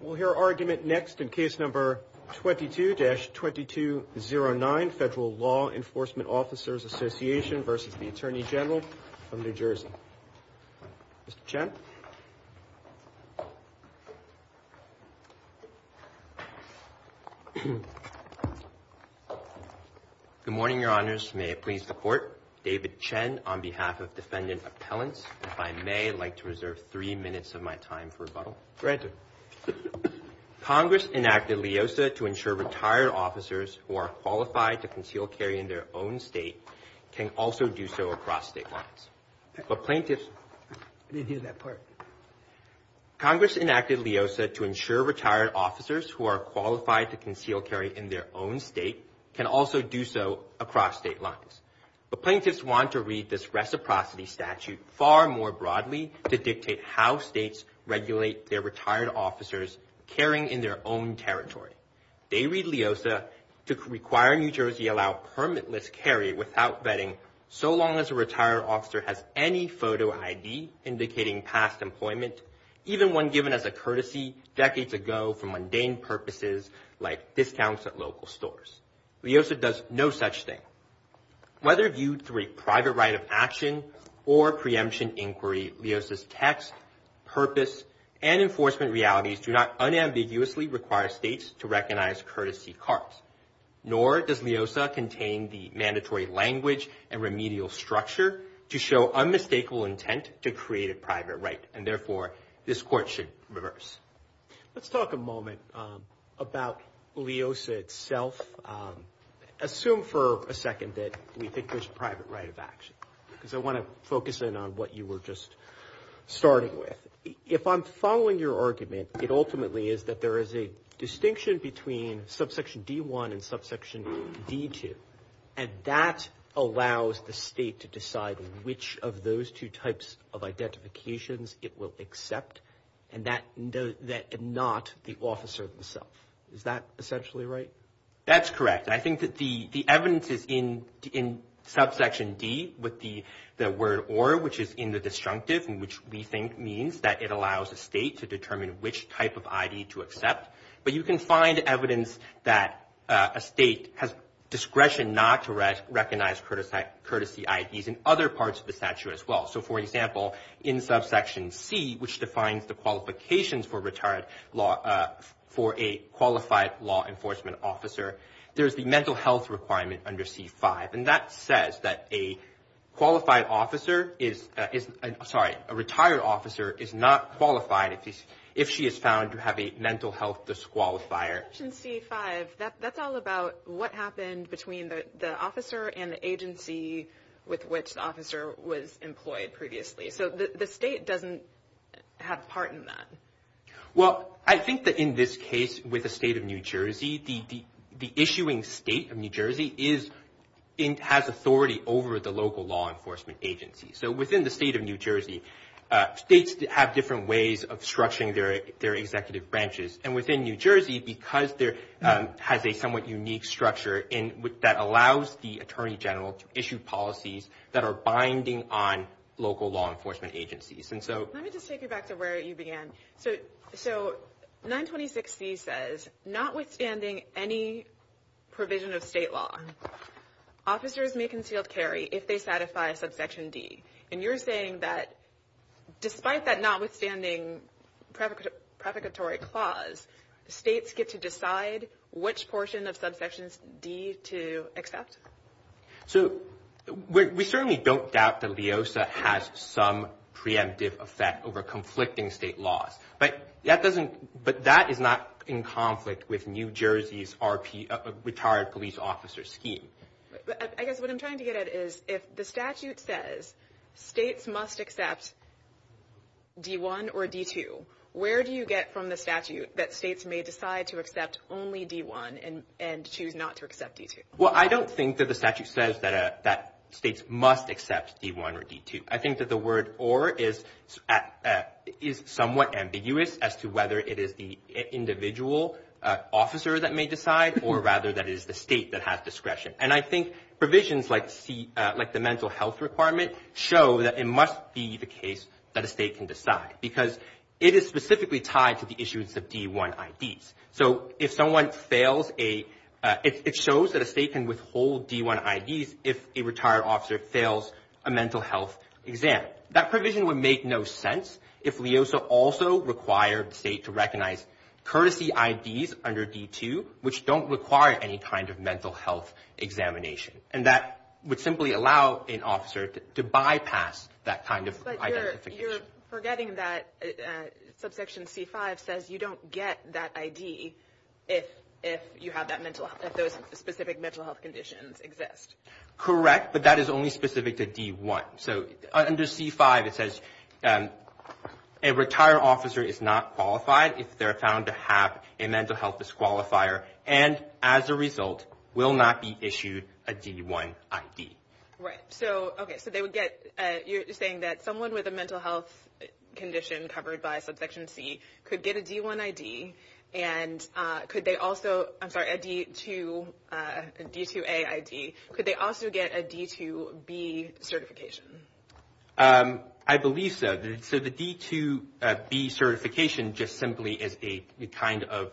We'll hear argument next in case number 22-2209 Federal Law Enforcement Officers Association versus the Attorney General of New Jersey. Mr. Chen. Good morning, your honors. May it please the court. David Chen on behalf of defendant appellants. If I may, I'd like to reserve three minutes of my time for Congress enacted LEOSA to ensure retired officers who are qualified to conceal carry in their own state can also do so across state lines. But plaintiffs... I didn't hear that part. Congress enacted LEOSA to ensure retired officers who are qualified to conceal carry in their own state can also do so across state lines. But plaintiffs want to read this reciprocity statute far more broadly to dictate how states regulate their retired officers carrying in their own territory. They read LEOSA to require New Jersey allow permitless carry without vetting so long as a retired officer has any photo ID indicating past employment, even one given as a courtesy decades ago for mundane purposes like discounts at local stores. LEOSA does no such thing. Whether viewed through a private right of action or preemption inquiry, LEOSA's text, purpose, and enforcement realities do not unambiguously require states to recognize courtesy cards. Nor does LEOSA contain the mandatory language and remedial structure to show unmistakable intent to create a private right and therefore this court should reverse. Let's talk a moment about LEOSA itself. Assume for a second that we think there's a private right of action because I want to focus in on what you were just starting with. If I'm following your argument, it ultimately is that there is a distinction between subsection D1 and subsection D2 and that allows the state to decide which of those two types of identifications it will accept and that not the officer himself. Is that essentially right? That's correct. I think that the evidence is in subsection D with the the word or which is in the disjunctive and which we think means that it allows a state to determine which type of ID to accept but you can find evidence that a state has discretion not to recognize courtesy IDs in other parts of the statute as well. So for example, in subsection C which defines the there's the mental health requirement under C5 and that says that a qualified officer is, sorry, a retired officer is not qualified if she is found to have a mental health disqualifier. In subsection C5, that's all about what happened between the officer and the agency with which the officer was employed previously. So the state doesn't have a part in that. Well, I think that in this New Jersey, the issuing state of New Jersey has authority over the local law enforcement agency. So within the state of New Jersey, states have different ways of structuring their executive branches and within New Jersey, because there has a somewhat unique structure in which that allows the Attorney General to issue policies that are binding on local law So, notwithstanding any provision of state law, officers may concealed carry if they satisfy subsection D. And you're saying that despite that notwithstanding prefiguratory clause, states get to decide which portion of subsections D to accept? So we certainly don't doubt that LEOSA has some preemptive effect over New Jersey's retired police officer scheme. I guess what I'm trying to get at is if the statute says states must accept D1 or D2, where do you get from the statute that states may decide to accept only D1 and choose not to accept D2? Well, I don't think that the statute says that states must accept D1 or D2. I think that the word or is somewhat ambiguous as to whether it is the individual officer that may decide or rather that is the state that has discretion. And I think provisions like the mental health requirement show that it must be the case that a state can decide, because it is specifically tied to the issues of D1 IDs. So if someone fails a it shows that a state can withhold D1 IDs if a retired officer fails a mental health exam. That provision would make no sense if LEOSA also required the state to recognize courtesy IDs under D2, which don't require any kind of mental health examination. And that would simply allow an officer to bypass that kind of identification. But you're forgetting that subsection C5 says you don't get that ID if you have that mental health, if those specific mental health conditions exist. Correct, but that is only specific to D1. So under C5 it says a retired officer is not qualified if they're found to have a mental health disqualifier and as a result will not be issued a D1 ID. Right, so okay, so they would get, you're saying that someone with a mental health condition covered by subsection C could get a D1 ID and could they also, I'm sorry, a D2A ID, could they also get a D2B certification? I believe so. So the D2B certification just simply is a kind of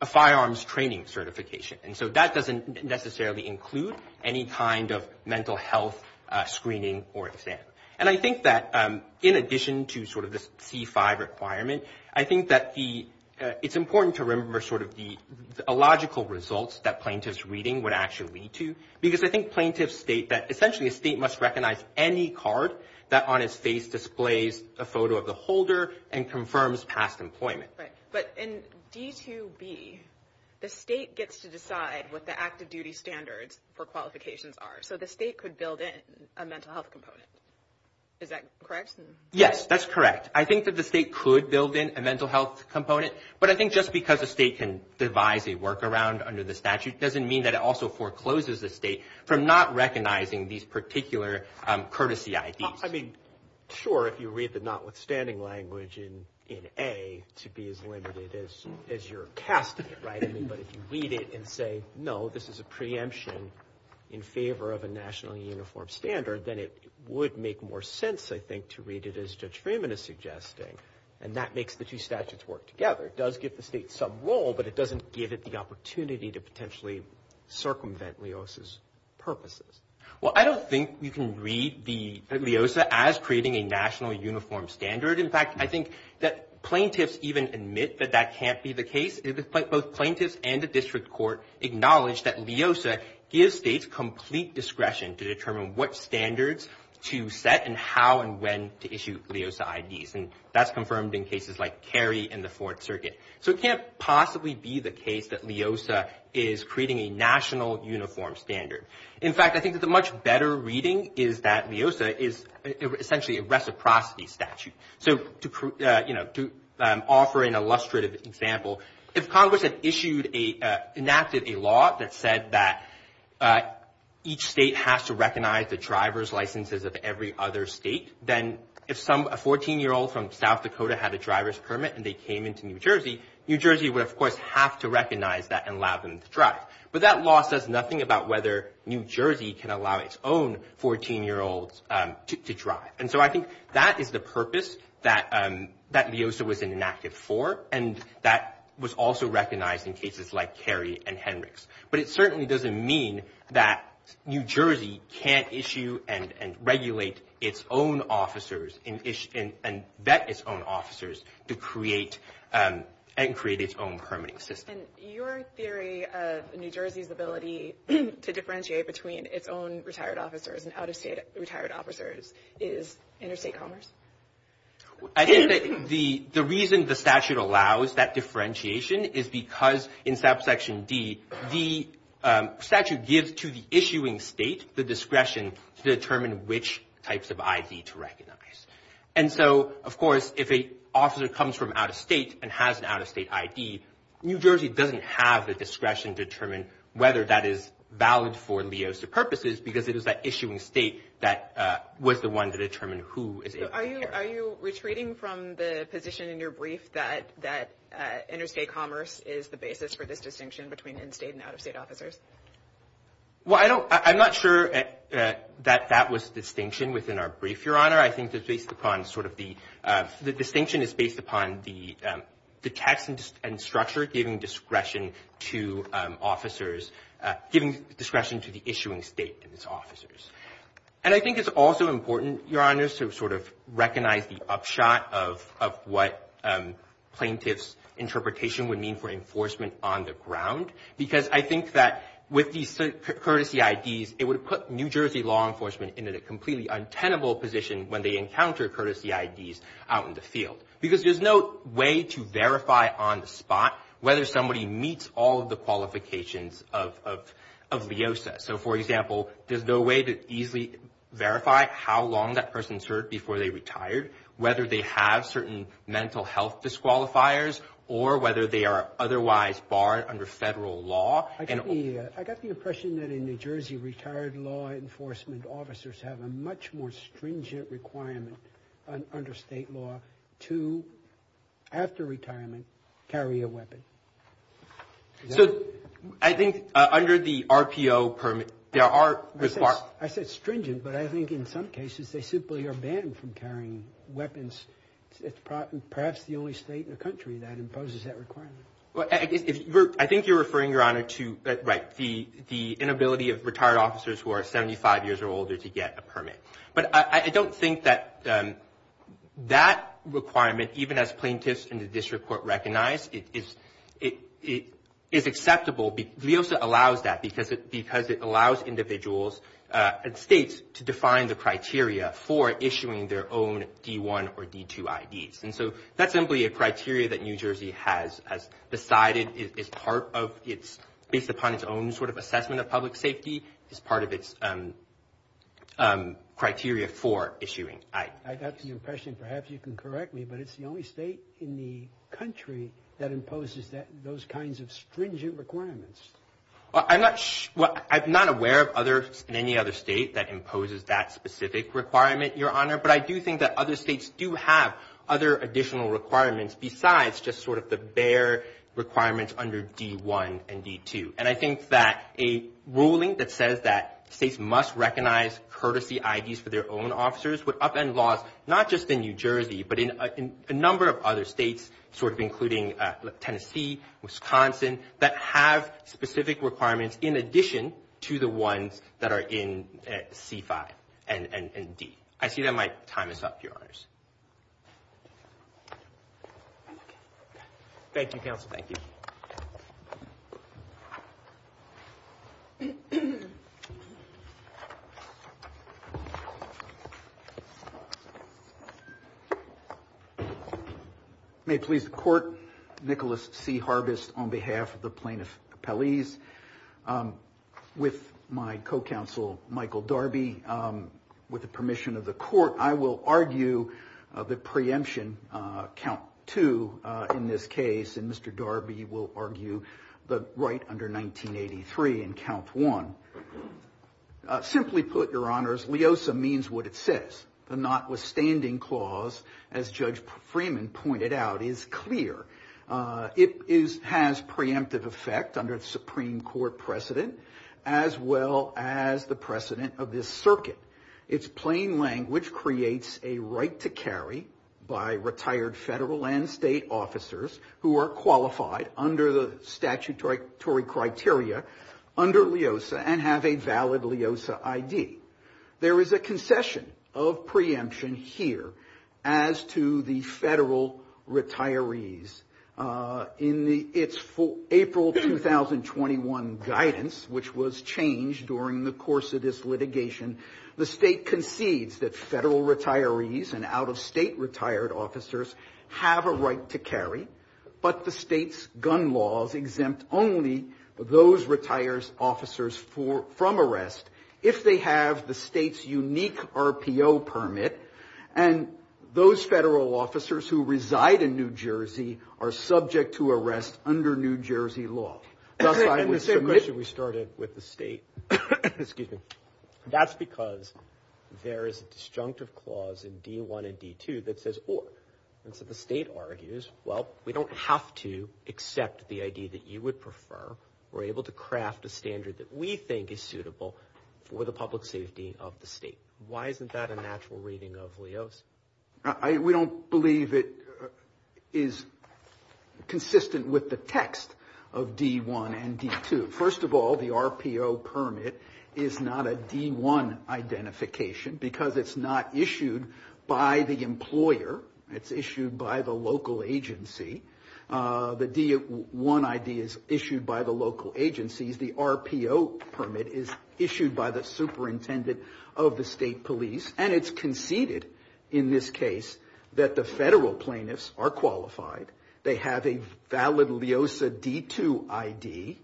a firearms training certification. And so that doesn't necessarily include any kind of mental health screening or exam. And I think that in addition to sort of this C5 requirement, I think that the, it's important to remember sort of the illogical results that plaintiff's reading would actually lead to. Because I think plaintiffs state that essentially a state must recognize any card that on its face displays a photo of the holder and confirms past employment. But in D2B, the state gets to decide what the active duty standards for qualifications are. So the state could build in a mental health component. Is that correct? Yes, that's correct. The state could build in a mental health component. But I think just because the state can devise a workaround under the statute doesn't mean that it also forecloses the state from not recognizing these particular courtesy IDs. I mean, sure, if you read the notwithstanding language in A to be as limited as your cast of it, right? But if you read it and say, no, this is a preemption in favor of a nationally uniform standard, then it would make more sense, I think, to read it as Judge Freeman is suggesting. And that makes the two statutes work together. It does give the state some role, but it doesn't give it the opportunity to potentially circumvent Leosa's purposes. Well, I don't think you can read the Leosa as creating a national uniform standard. In fact, I think that plaintiffs even admit that that can't be the case. Both plaintiffs and the district court acknowledge that Leosa gives states complete discretion to determine what standards to set and how and when to issue Leosa IDs. And that's confirmed in cases like Cary and the Fourth Circuit. So it can't possibly be the case that Leosa is creating a national uniform standard. In fact, I think that the much better reading is that Leosa is essentially a reciprocity statute. So to, you know, to offer an illustrative example, if Congress had to recognize the driver's licenses of every other state, then if a 14-year-old from South Dakota had a driver's permit and they came into New Jersey, New Jersey would, of course, have to recognize that and allow them to drive. But that law says nothing about whether New Jersey can allow its own 14-year-old to drive. And so I think that is the purpose that Leosa was enacted for. And that was also recognized in cases like Cary and Henricks. But it certainly doesn't mean that New Jersey can't issue and regulate its own officers and vet its own officers to create and create its own permitting system. Your theory of New Jersey's ability to differentiate between its own retired officers and out-of-state retired officers is interstate commerce? I think that the reason the statute allows that differentiation is because in subsection D, the statute gives to the issuing state the discretion to determine which types of ID to recognize. And so, of course, if a officer comes from out-of-state and has an out-of-state ID, New Jersey doesn't have the discretion to determine whether that is valid for Leosa purposes because it is that issuing state that was the one to determine who is able to hire. Are you retreating from the position in your brief that interstate commerce is the basis for this distinction between in-state and out-of-state officers? Well, I don't, I'm not sure that that was the distinction within our brief, Your Honor. I think it's based upon sort of the, the distinction is based upon the text and structure giving discretion to officers, giving discretion to the issuing state and its officers. And I think it's also important, Your Honor, to sort of recognize the upshot of what plaintiff's interpretation would mean for enforcement on the ground. Because I think that with these courtesy IDs, it would put New Jersey law enforcement in a completely untenable position when they encounter courtesy IDs out in the field. Because there's no way to verify on the spot whether somebody meets all of the qualifications of, of, of Leosa. So, for example, there's no way to easily verify how long that person served before they retired, whether they have certain mental health disqualifiers, or whether they are otherwise barred under federal law. I got the, I got the impression that in New Jersey, retired law enforcement officers have a much more stringent requirement under state law to, after retirement, carry a weapon. So, I think under the RPO permit, there are required... I said stringent, but I think in some cases they simply are banned from carrying weapons. It's perhaps the only state in the country that imposes that requirement. Well, I think you're referring, Your Honor, to, right, the, the inability of retired officers who are 75 years or older to get a permit. But I don't think that, that requirement, even as plaintiffs in the district court recognize, it is, it is acceptable. Leosa allows that because it, because it allows individuals and states to define the criteria for issuing their own D1 or D2 IDs. And so, that's simply a criteria that New Jersey has, has decided is part of its, based upon its own sort of assessment of public safety, is part of its criteria for issuing IDs. I got the impression, perhaps you can correct me, but it's the only state in the country that imposes that, those kinds of stringent requirements. I'm not, well, I'm not aware of others in any other state that imposes that have other additional requirements besides just sort of the bare requirements under D1 and D2. And I think that a ruling that says that states must recognize courtesy IDs for their own officers would upend laws, not just in New Jersey, but in a number of other states, sort of including Tennessee, Wisconsin, that have specific requirements in addition to the ones that are in C5 and D. I see that my time is up, Your Honors. Thank you, Counsel. Thank you. May it please the Court, Nicholas C. Harbis on behalf of the plaintiff's counsel, my co-counsel, Michael Darby, with the permission of the Court, I will argue the preemption, Count 2, in this case, and Mr. Darby will argue the right under 1983 in Count 1. Simply put, Your Honors, LEOSA means what it says. The notwithstanding clause, as Judge Freeman pointed out, is clear. It has preemptive effect under the Supreme Court precedent, as well as the precedent of this circuit. Its plain language creates a right to carry by retired federal and state officers who are qualified under the statutory criteria under LEOSA and have a valid LEOSA ID. There is a concession of preemption here as to the federal retirees. In its April 2021 guidance, which was changed during the course of this litigation, the state concedes that federal retirees and out-of-state retired officers have a right to carry, but the state's gun laws exempt only those retirees officers from arrest if they have the state's unique RPO permit, and those federal officers who reside in New Jersey are subject to arrest under New Jersey law. And the same question we started with the state, excuse me, that's because there is a disjunctive clause in D1 and D2 that says or, and so the state argues, well, we don't have to accept the ID that you would prefer. We're able to craft a standard that we think is suitable for the public safety of the state. Why isn't that a natural reading of LEOSA? I, we don't believe it is consistent with the text of D1 and D2. First of all, the RPO permit is not a D1 identification because it's not issued by the employer. It's issued by the local agency. The D1 ID is issued by the local agencies. The RPO permit is issued by the superintendent of the state police, and it's conceded in this case that the federal plaintiffs are qualified. They have a valid LEOSA D2 ID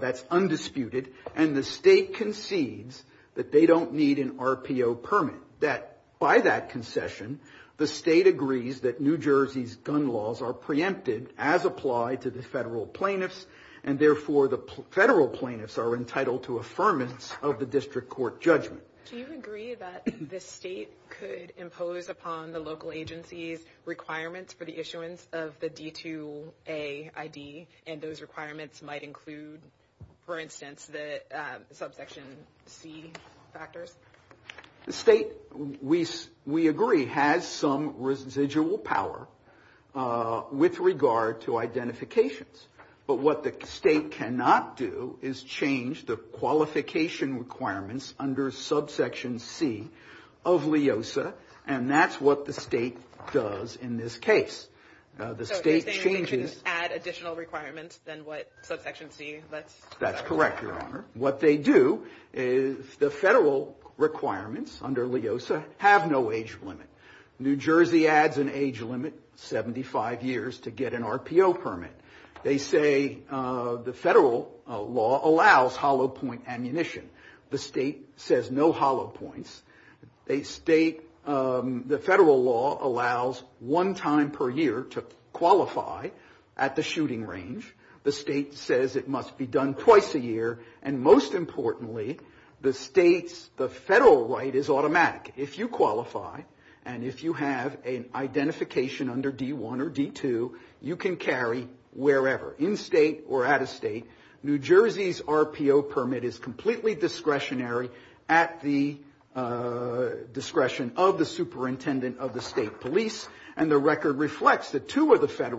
that's undisputed, and the state concedes that they don't need an RPO permit. That, by that concession, the state agrees that New Jersey's gun laws are preempted as applied to the federal plaintiffs, and therefore the federal plaintiffs are entitled to affirmance of the district court judgment. Do you agree that the state could impose upon the local agencies requirements for the issuance of the D2A ID, and those requirements might include, for instance, the subsection C factors? The state, we agree, has some residual power with regard to identifications, but what the state cannot do is change the qualification requirements under subsection C of LEOSA, and that's what the state does in this case. So you're saying they shouldn't add additional requirements than what subsection C? That's correct, Your Honor. What they do is the federal requirements under LEOSA have no age limit. New Jersey adds an age limit, 75 years, to get an RPO permit. They say the federal law allows hollow point ammunition. The state says no hollow points. They state the federal law allows one time per year to qualify at the shooting range. The state says it must be done twice a year, and most importantly, the state's, the federal right is automatic. If you qualify, and if you have an identification under D1 or D2, you can carry wherever, in state or out of state. New Jersey's RPO permit is completely discretionary at the discretion of the superintendent of the state police, and the record reflects that two of the states had an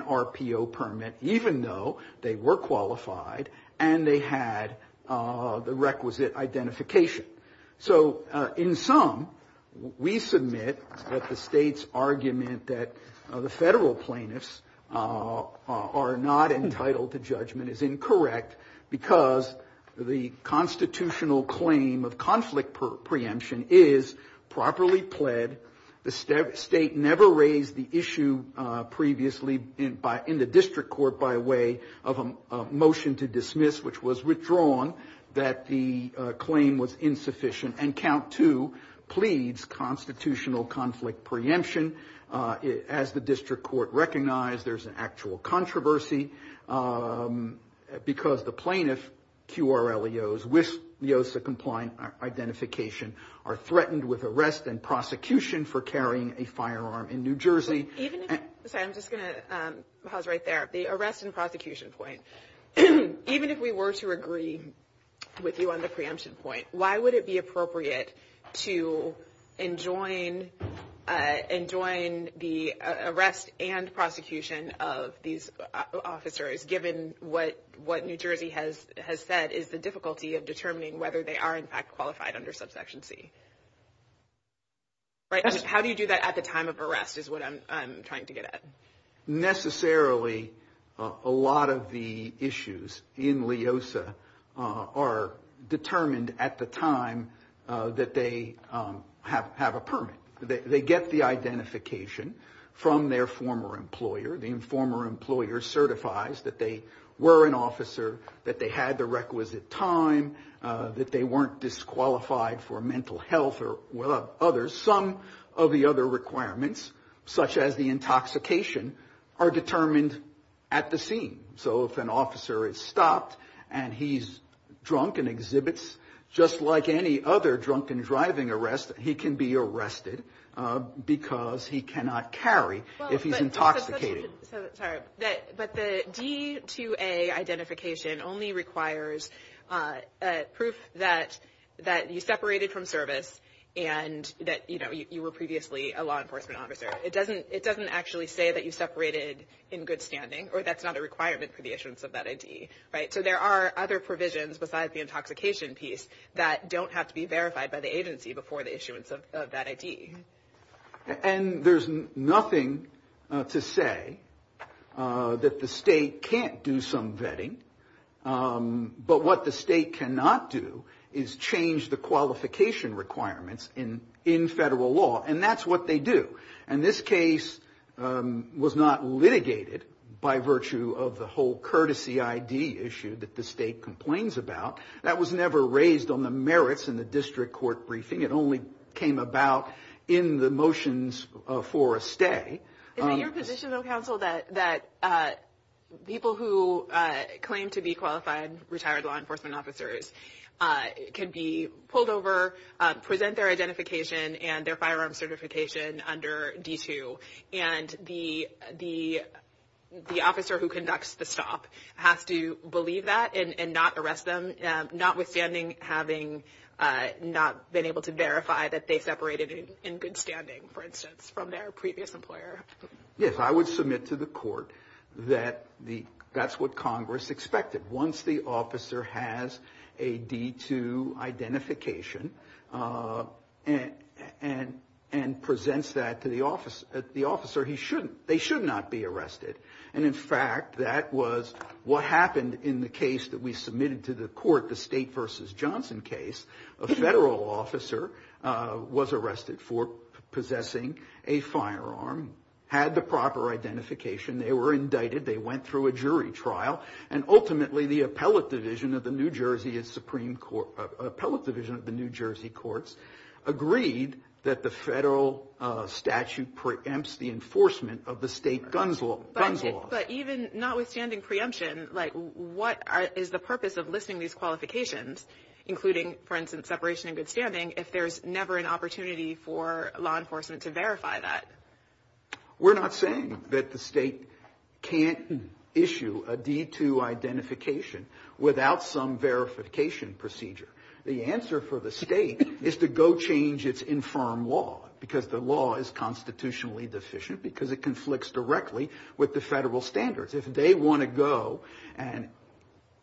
RPO permit, even though they were qualified and they had the requisite identification. So in sum, we submit that the state's argument that the federal plaintiffs are not entitled to judgment is incorrect because the constitutional claim of conflict preemption is properly pled. The state never raised the issue previously in the district court by way of a motion to dismiss, which was withdrawn, that the claim was insufficient. And count two pleads constitutional conflict preemption. As the district court recognized, there's an actual controversy because the plaintiff, QRLEOs, with IOSA-compliant identification are threatened with prosecution for carrying a firearm in New Jersey. Even if, sorry, I'm just going to pause right there. The arrest and prosecution point, even if we were to agree with you on the preemption point, why would it be appropriate to enjoin the arrest and prosecution of these officers, given what New Jersey has said is the difficulty of determining whether they are, in fact, qualified under subsection C? How do you do that at the time of arrest is what I'm trying to get at. Necessarily, a lot of the issues in IOSA are determined at the time that they have a permit. They get the identification from their former employer. The former employer certifies that they were an officer, that they had the health or others. Some of the other requirements, such as the intoxication, are determined at the scene. So if an officer is stopped and he's drunk and exhibits, just like any other drunken driving arrest, he can be arrested because he cannot carry if he's intoxicated. But the D to A identification only requires proof that you separated from the service and that you were previously a law enforcement officer. It doesn't actually say that you separated in good standing, or that's not a requirement for the issuance of that ID, right? So there are other provisions, besides the intoxication piece, that don't have to be verified by the agency before the issuance of that ID. And there's nothing to say that the state can't do some vetting. But what the state cannot do is change the qualification requirements in federal law. And that's what they do. And this case was not litigated by virtue of the whole courtesy ID issue that the state complains about. That was never raised on the merits in the district court briefing. It only came about in the motions for a stay. Is it your position, though, counsel, that people who claim to be qualified retired law enforcement officers can be pulled over, present their identification and their firearm certification under D2, and the officer who conducts the stop has to believe that and not arrest them, notwithstanding having not been able to verify that they separated in good standing, for instance, from their previous employer? Yes, I would submit to the court that that's what Congress expected. Once the officer has a D2 identification and presents that to the officer, they should not be arrested. And in fact, that was what happened in the case that we submitted to the court, the state versus Johnson case. A federal officer was arrested for possessing a firearm, had the proper identification. They were indicted. They went through a jury trial. And ultimately, the appellate division of the New Jersey Supreme Court, appellate division of the New Jersey courts, agreed that the federal statute preempts the enforcement of the state guns law. But even notwithstanding preemption, what is the purpose of listing these qualifications, including, for instance, separation in good standing, if there's never an opportunity for law enforcement to verify that? We're not saying that the state can't issue a D2 identification without some verification procedure. The answer for the state is to go change its infirm law because the law is constitutionally deficient, because it conflicts directly with the federal standards. If they want to go and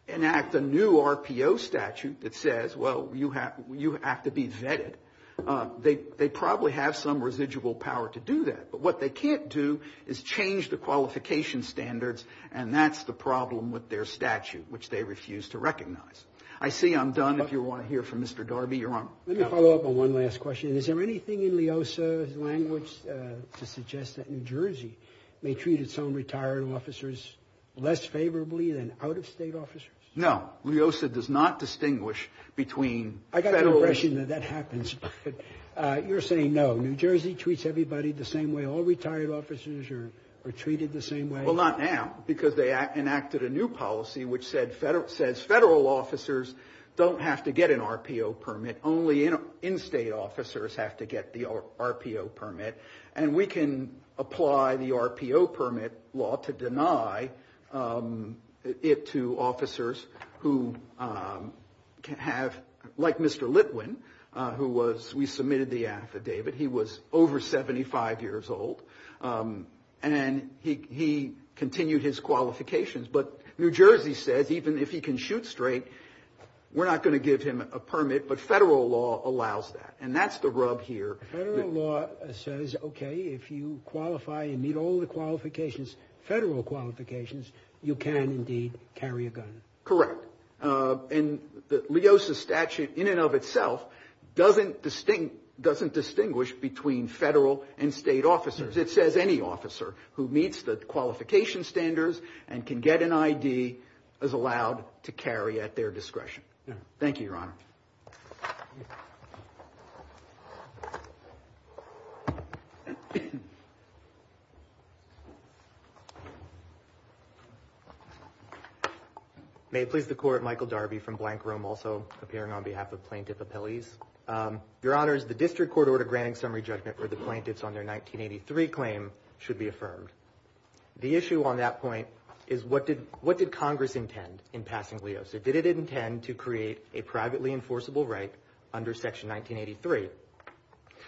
enact a new RPO statute that says, well, you have you have to be vetted, they probably have some residual power to do that. But what they can't do is change the qualification standards. And that's the problem with their statute, which they refuse to recognize. I see I'm done. If you want to hear from Mr. Darby, you're on. Let me follow up on one last question. Is there anything in Leosa's language to suggest that New Jersey may treat its own retired officers less favorably than out-of-state officers? No, Leosa does not distinguish between federal... I got the impression that that happens, but you're saying no. New Jersey treats everybody the same way. All retired officers are treated the same way. Well, not now, because they enacted a new policy which says federal officers don't have to get an RPO permit. Only in-state officers have to get the RPO permit. And we can apply the RPO permit law to deny it to officers who have, like Mr. Litwin, who was, we submitted the affidavit. He was over 75 years old and he continued his qualifications. But New Jersey says even if he can shoot straight, we're not going to give him a permit, but federal law allows that. And that's the rub here. Federal law says, okay, if you qualify and meet all the qualifications, federal qualifications, you can indeed carry a gun. Correct. And Leosa's statute in and of itself doesn't distinguish between federal and state officers. It says any officer who meets the qualification standards and can get an ID is allowed to carry at their discretion. Thank you, Your Honor. May it please the court. Michael Darby from Blank Room, also appearing on behalf of plaintiff appellees. Your Honor, the district court order granting summary judgment for the plaintiffs on their 1983 claim should be affirmed. The issue on that point is what did Congress intend in passing Leosa? Did it intend to create a privately enforceable right under section 1983?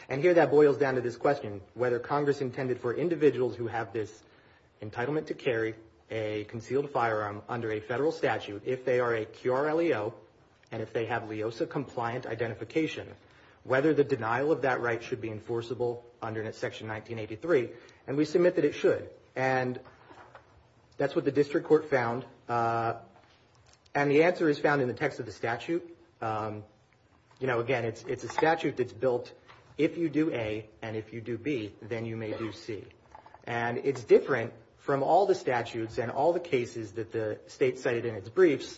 And here that boils down to this question, whether Congress intended for individuals who have this entitlement to carry a concealed firearm under a federal statute, if they are a QRLEO, and if they have Leosa compliant identification, whether the denial of that right should be enforceable under section 1983, and we submit that it should. And that's what the district court found. And the answer is found in the text of the statute. You know, again, it's a statute that's built, if you do A and if you do B, then you may do C. And it's different from all the statutes and all the cases that the state cited in its briefs.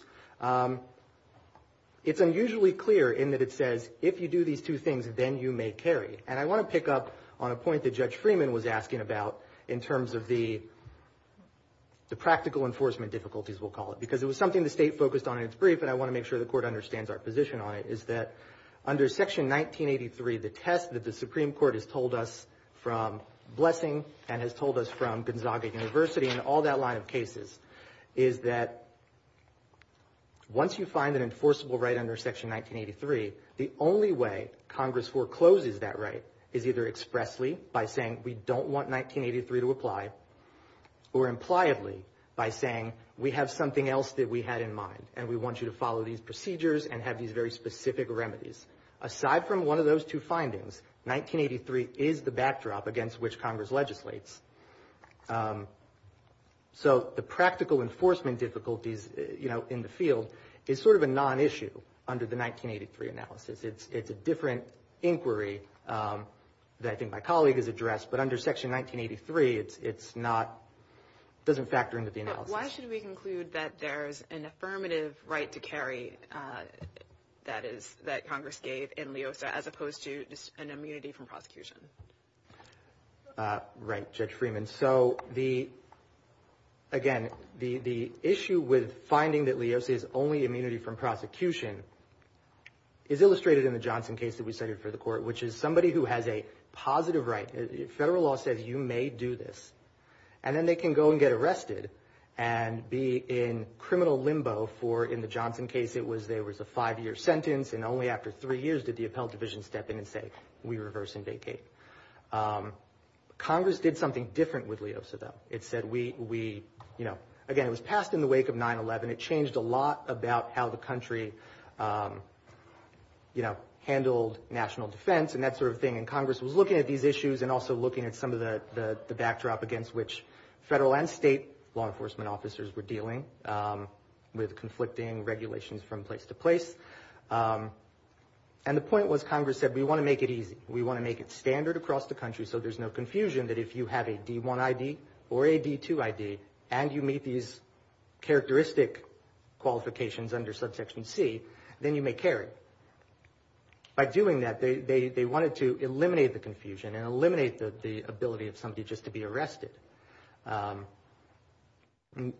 It's unusually clear in that it says, if you do these two things, then you may carry. And I want to pick up on a point that Judge Freeman was asking about in terms of the practical enforcement difficulties, we'll call it, because it was something the state understands our position on it, is that under section 1983, the test that the Supreme Court has told us from Blessing and has told us from Gonzaga University and all that line of cases, is that once you find an enforceable right under section 1983, the only way Congress forecloses that right is either expressly by saying, we don't want 1983 to apply, or impliedly by saying, we have something else that we had in mind and we want you to follow these procedures and have these very specific remedies. Aside from one of those two findings, 1983 is the backdrop against which Congress legislates. So the practical enforcement difficulties in the field is sort of a non-issue under the 1983 analysis. It's a different inquiry that I think my colleague has addressed, but under section 1983, it's not, doesn't factor into the analysis. Why should we conclude that there's an affirmative right to carry, that is, that Congress gave in Leosa, as opposed to just an immunity from prosecution? Right, Judge Freeman. So the, again, the issue with finding that Leosa is only immunity from prosecution is illustrated in the Johnson case that we cited for the court, which is somebody who has a positive right, federal law says you may do this, and then they can go and get arrested and be in criminal limbo for, in the Johnson case, it was, there was a five-year sentence, and only after three years did the appellate division step in and say, we reverse and vacate. Congress did something different with Leosa, though. It said we, you know, again, it was passed in the wake of 9-11. It changed a lot about how the country, you know, handled national defense and that sort of thing. And Congress was looking at these issues and also looking at some of the law enforcement officers were dealing with conflicting regulations from place to place. And the point was, Congress said, we want to make it easy. We want to make it standard across the country so there's no confusion that if you have a D1ID or a D2ID and you meet these characteristic qualifications under Subsection C, then you may carry. By doing that, they wanted to eliminate the confusion and eliminate the ability of somebody just to be arrested. And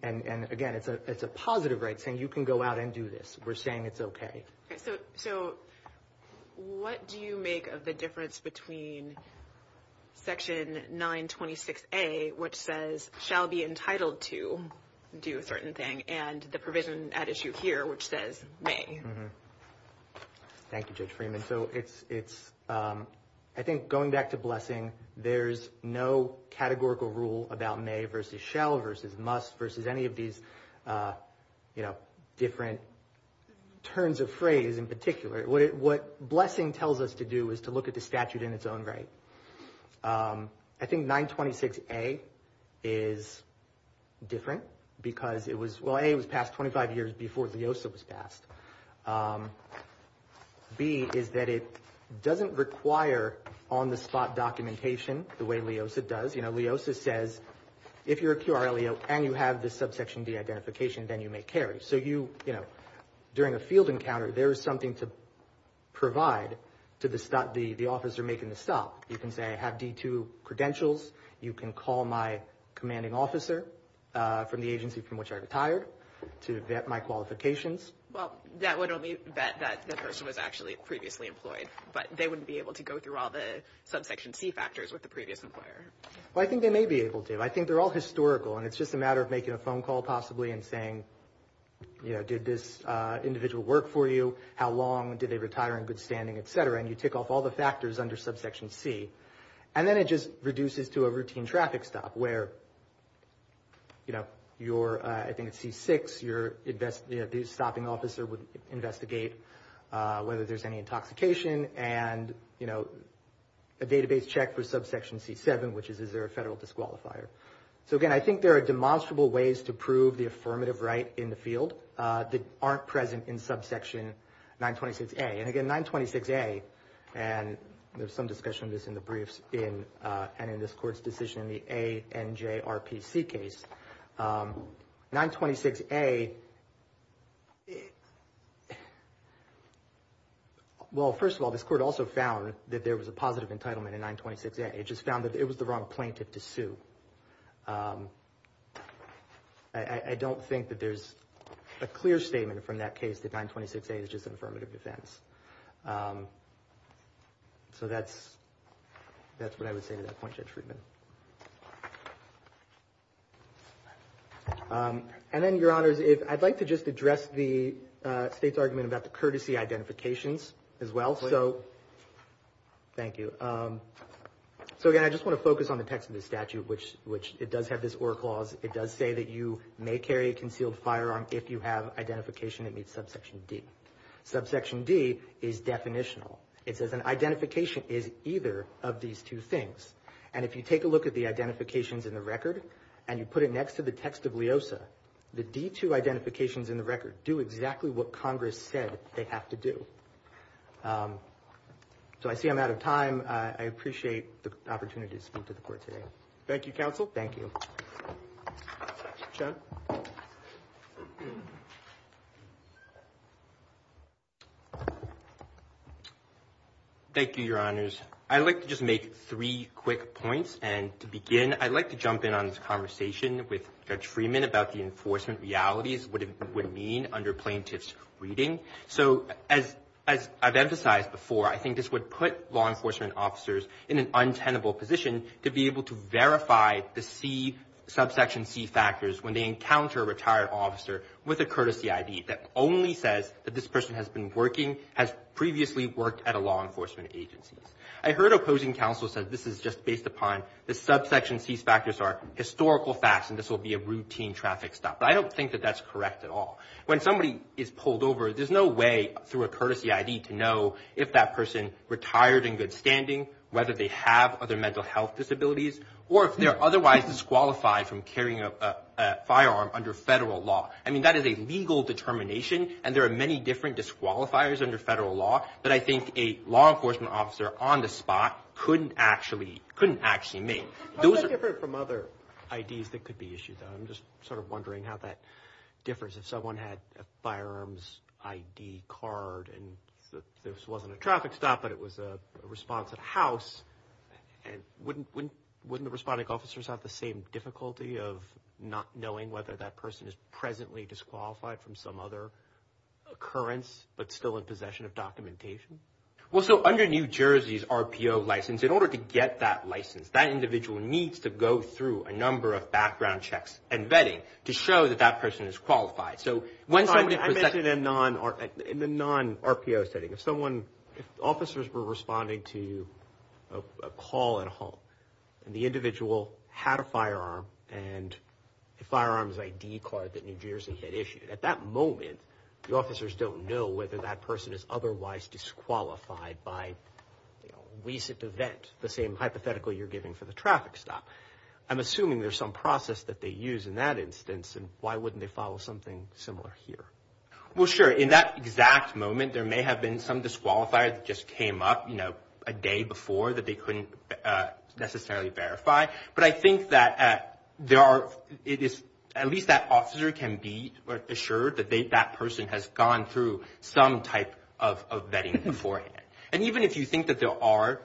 again, it's a positive right saying you can go out and do this. We're saying it's OK. So what do you make of the difference between Section 926A, which says shall be entitled to do a certain thing, and the provision at issue here, which says may? Thank you, Judge Freeman. So it's, I think going back to blessing, there's no categorical rule about may versus shall versus must versus any of these, you know, different turns of phrase in particular. What blessing tells us to do is to look at the statute in its own right. I think 926A is different because it was, well, A, it was passed 25 years before Leosa was passed. B is that it doesn't require on the spot documentation the way Leosa does. You know, Leosa says if you're a QRLEO and you have this Subsection D identification, then you may carry. So you know, during a field encounter, there is something to provide to the officer making the stop. You can say I have D2 credentials. You can call my commanding officer from the agency from which I retired to vet my qualifications. Well, that would only vet that the person was actually previously employed, but they wouldn't be able to go through all the Subsection C factors with the previous employer. Well, I think they may be able to. I think they're all historical. And it's just a matter of making a phone call, possibly, and saying, you know, did this individual work for you? How long did they retire in good standing, etc.? And you tick off all the factors under Subsection C. And then it just reduces to a routine traffic stop where, you know, you're, I think it's C6, your stopping officer would investigate whether there's any intoxication and, you know, a database check for Subsection C7, which is, is there a federal disqualifier? So again, I think there are demonstrable ways to prove the affirmative right in the field that aren't present in Subsection 926A. And again, 926A, and there's some discussion of this in the briefs and in this court's decision in the ANJRPC case. 926A, well, first of all, this court also found that there was a positive entitlement in 926A. It just found that it was the wrong plaintiff to sue. I don't think that there's a clear statement from that case that 926A is just an affirmative defense. So that's, that's what I would say to that point, Judge Friedman. And then, Your Honors, if I'd like to just address the State's argument about the courtesy identifications as well. So, thank you. So again, I just want to focus on the text of the statute, which, which it does have this or clause. It does say that you may carry a concealed firearm if you have identification that meets Subsection D. Subsection D is definitional. It says an identification is either of these two things. And if you take a look at the identifications in the record and you put it next to the text of LEOSA, the D2 identifications in the record do exactly what Congress said they have to do. So I see I'm out of time. I appreciate the opportunity to speak to the court today. Thank you, counsel. Thank you. Thank you, Your Honors. I'd like to just make three quick points. And to begin, I'd like to jump in on this conversation with Judge Friedman about the enforcement realities, what it would mean under plaintiff's reading. So as, as I've emphasized before, I think this would put law enforcement officers in an untenable position to be able to verify the C, Subsection C factors when they encounter a retired officer with a courtesy ID that only says that this person has been working, has previously worked at a law enforcement agency. I heard opposing counsel said this is just based upon the subsection C factors are historical facts, and this will be a routine traffic stop. But I don't think that that's correct at all. When somebody is pulled over, there's no way through a courtesy ID to know if that person retired in good standing, whether they have other mental health disabilities, or if they're otherwise disqualified from carrying a firearm under federal law. I mean, that is a legal determination. And there are many different disqualifiers under federal law that I think a law enforcement officer on the spot couldn't actually, couldn't actually make. Those are different from other IDs that could be issued. I'm just sort of wondering how that differs if someone had a firearms ID card, and this wasn't a traffic stop, but it was a response at house. And wouldn't, wouldn't, wouldn't the responding officers have the same difficulty of not knowing whether that person is presently disqualified from some other occurrence, but still in possession of documentation? Well, so under New Jersey's RPO license, in order to get that license, that individual needs to go through a number of background checks and vetting to show that that person is qualified. So when somebody... I mentioned a non, in the non-RPO setting, if someone, if officers were responding to a call at home, and the individual had a firearm, and the firearms ID card that New Jersey had issued, at that moment, the officers don't know whether that person is otherwise disqualified by recent event, the same hypothetical you're giving for the traffic stop. I'm assuming there's some process that they use in that instance, and why wouldn't they follow something similar here? Well, sure, in that exact moment, there may have been some disqualifier that just came up, you know, a day before that they couldn't necessarily verify. But I think that there are, it is, at least that officer can be assured that they, that person has gone through some type of vetting beforehand. And even if you think that there are,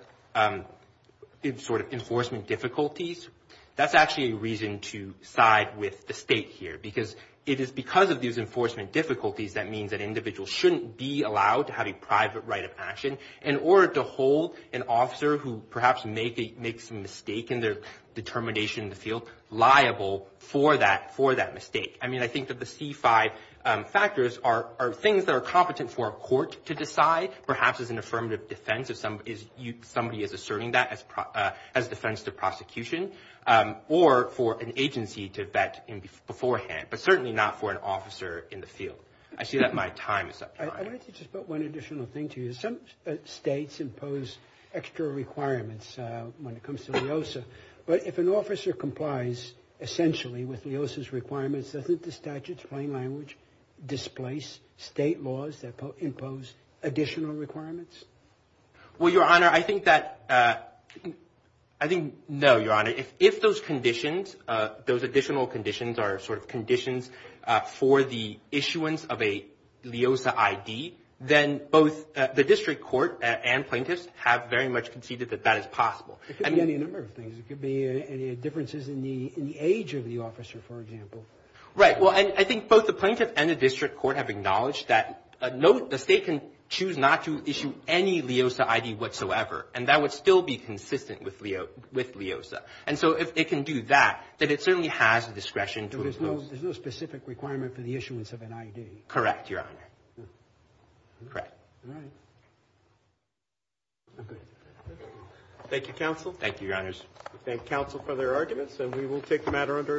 sort of, enforcement difficulties, that's actually a reason to side with the state here, because it is because of these enforcement difficulties that means that individuals shouldn't be allowed to have a private right of action, in order to hold an officer who perhaps makes a mistake in their determination in the field, liable for that, for that mistake. I mean, I think there are things that are competent for a court to decide, perhaps as an affirmative defense, if somebody is asserting that as defense to prosecution, or for an agency to vet beforehand, but certainly not for an officer in the field. I see that my time is up. I wanted to just put one additional thing to you. Some states impose extra requirements when it comes to LEOSA, but if an officer complies, essentially, with displace state laws that impose additional requirements? Well, Your Honor, I think that, I think, no, Your Honor. If those conditions, those additional conditions are, sort of, conditions for the issuance of a LEOSA ID, then both the district court and plaintiffs have very much conceded that that is possible. It could be any number of things. It could be any differences in the age of the officer, for example. Right. Well, and I think both the plaintiff and the district court have acknowledged that, no, the state can choose not to issue any LEOSA ID whatsoever, and that would still be consistent with LEOSA. And so if it can do that, then it certainly has the discretion to impose. There's no specific requirement for the issuance of an ID? Correct, Your Honor. Correct. All right. Thank you, counsel. Thank you, Your Honors. We thank counsel for their arguments, and we will take the matter under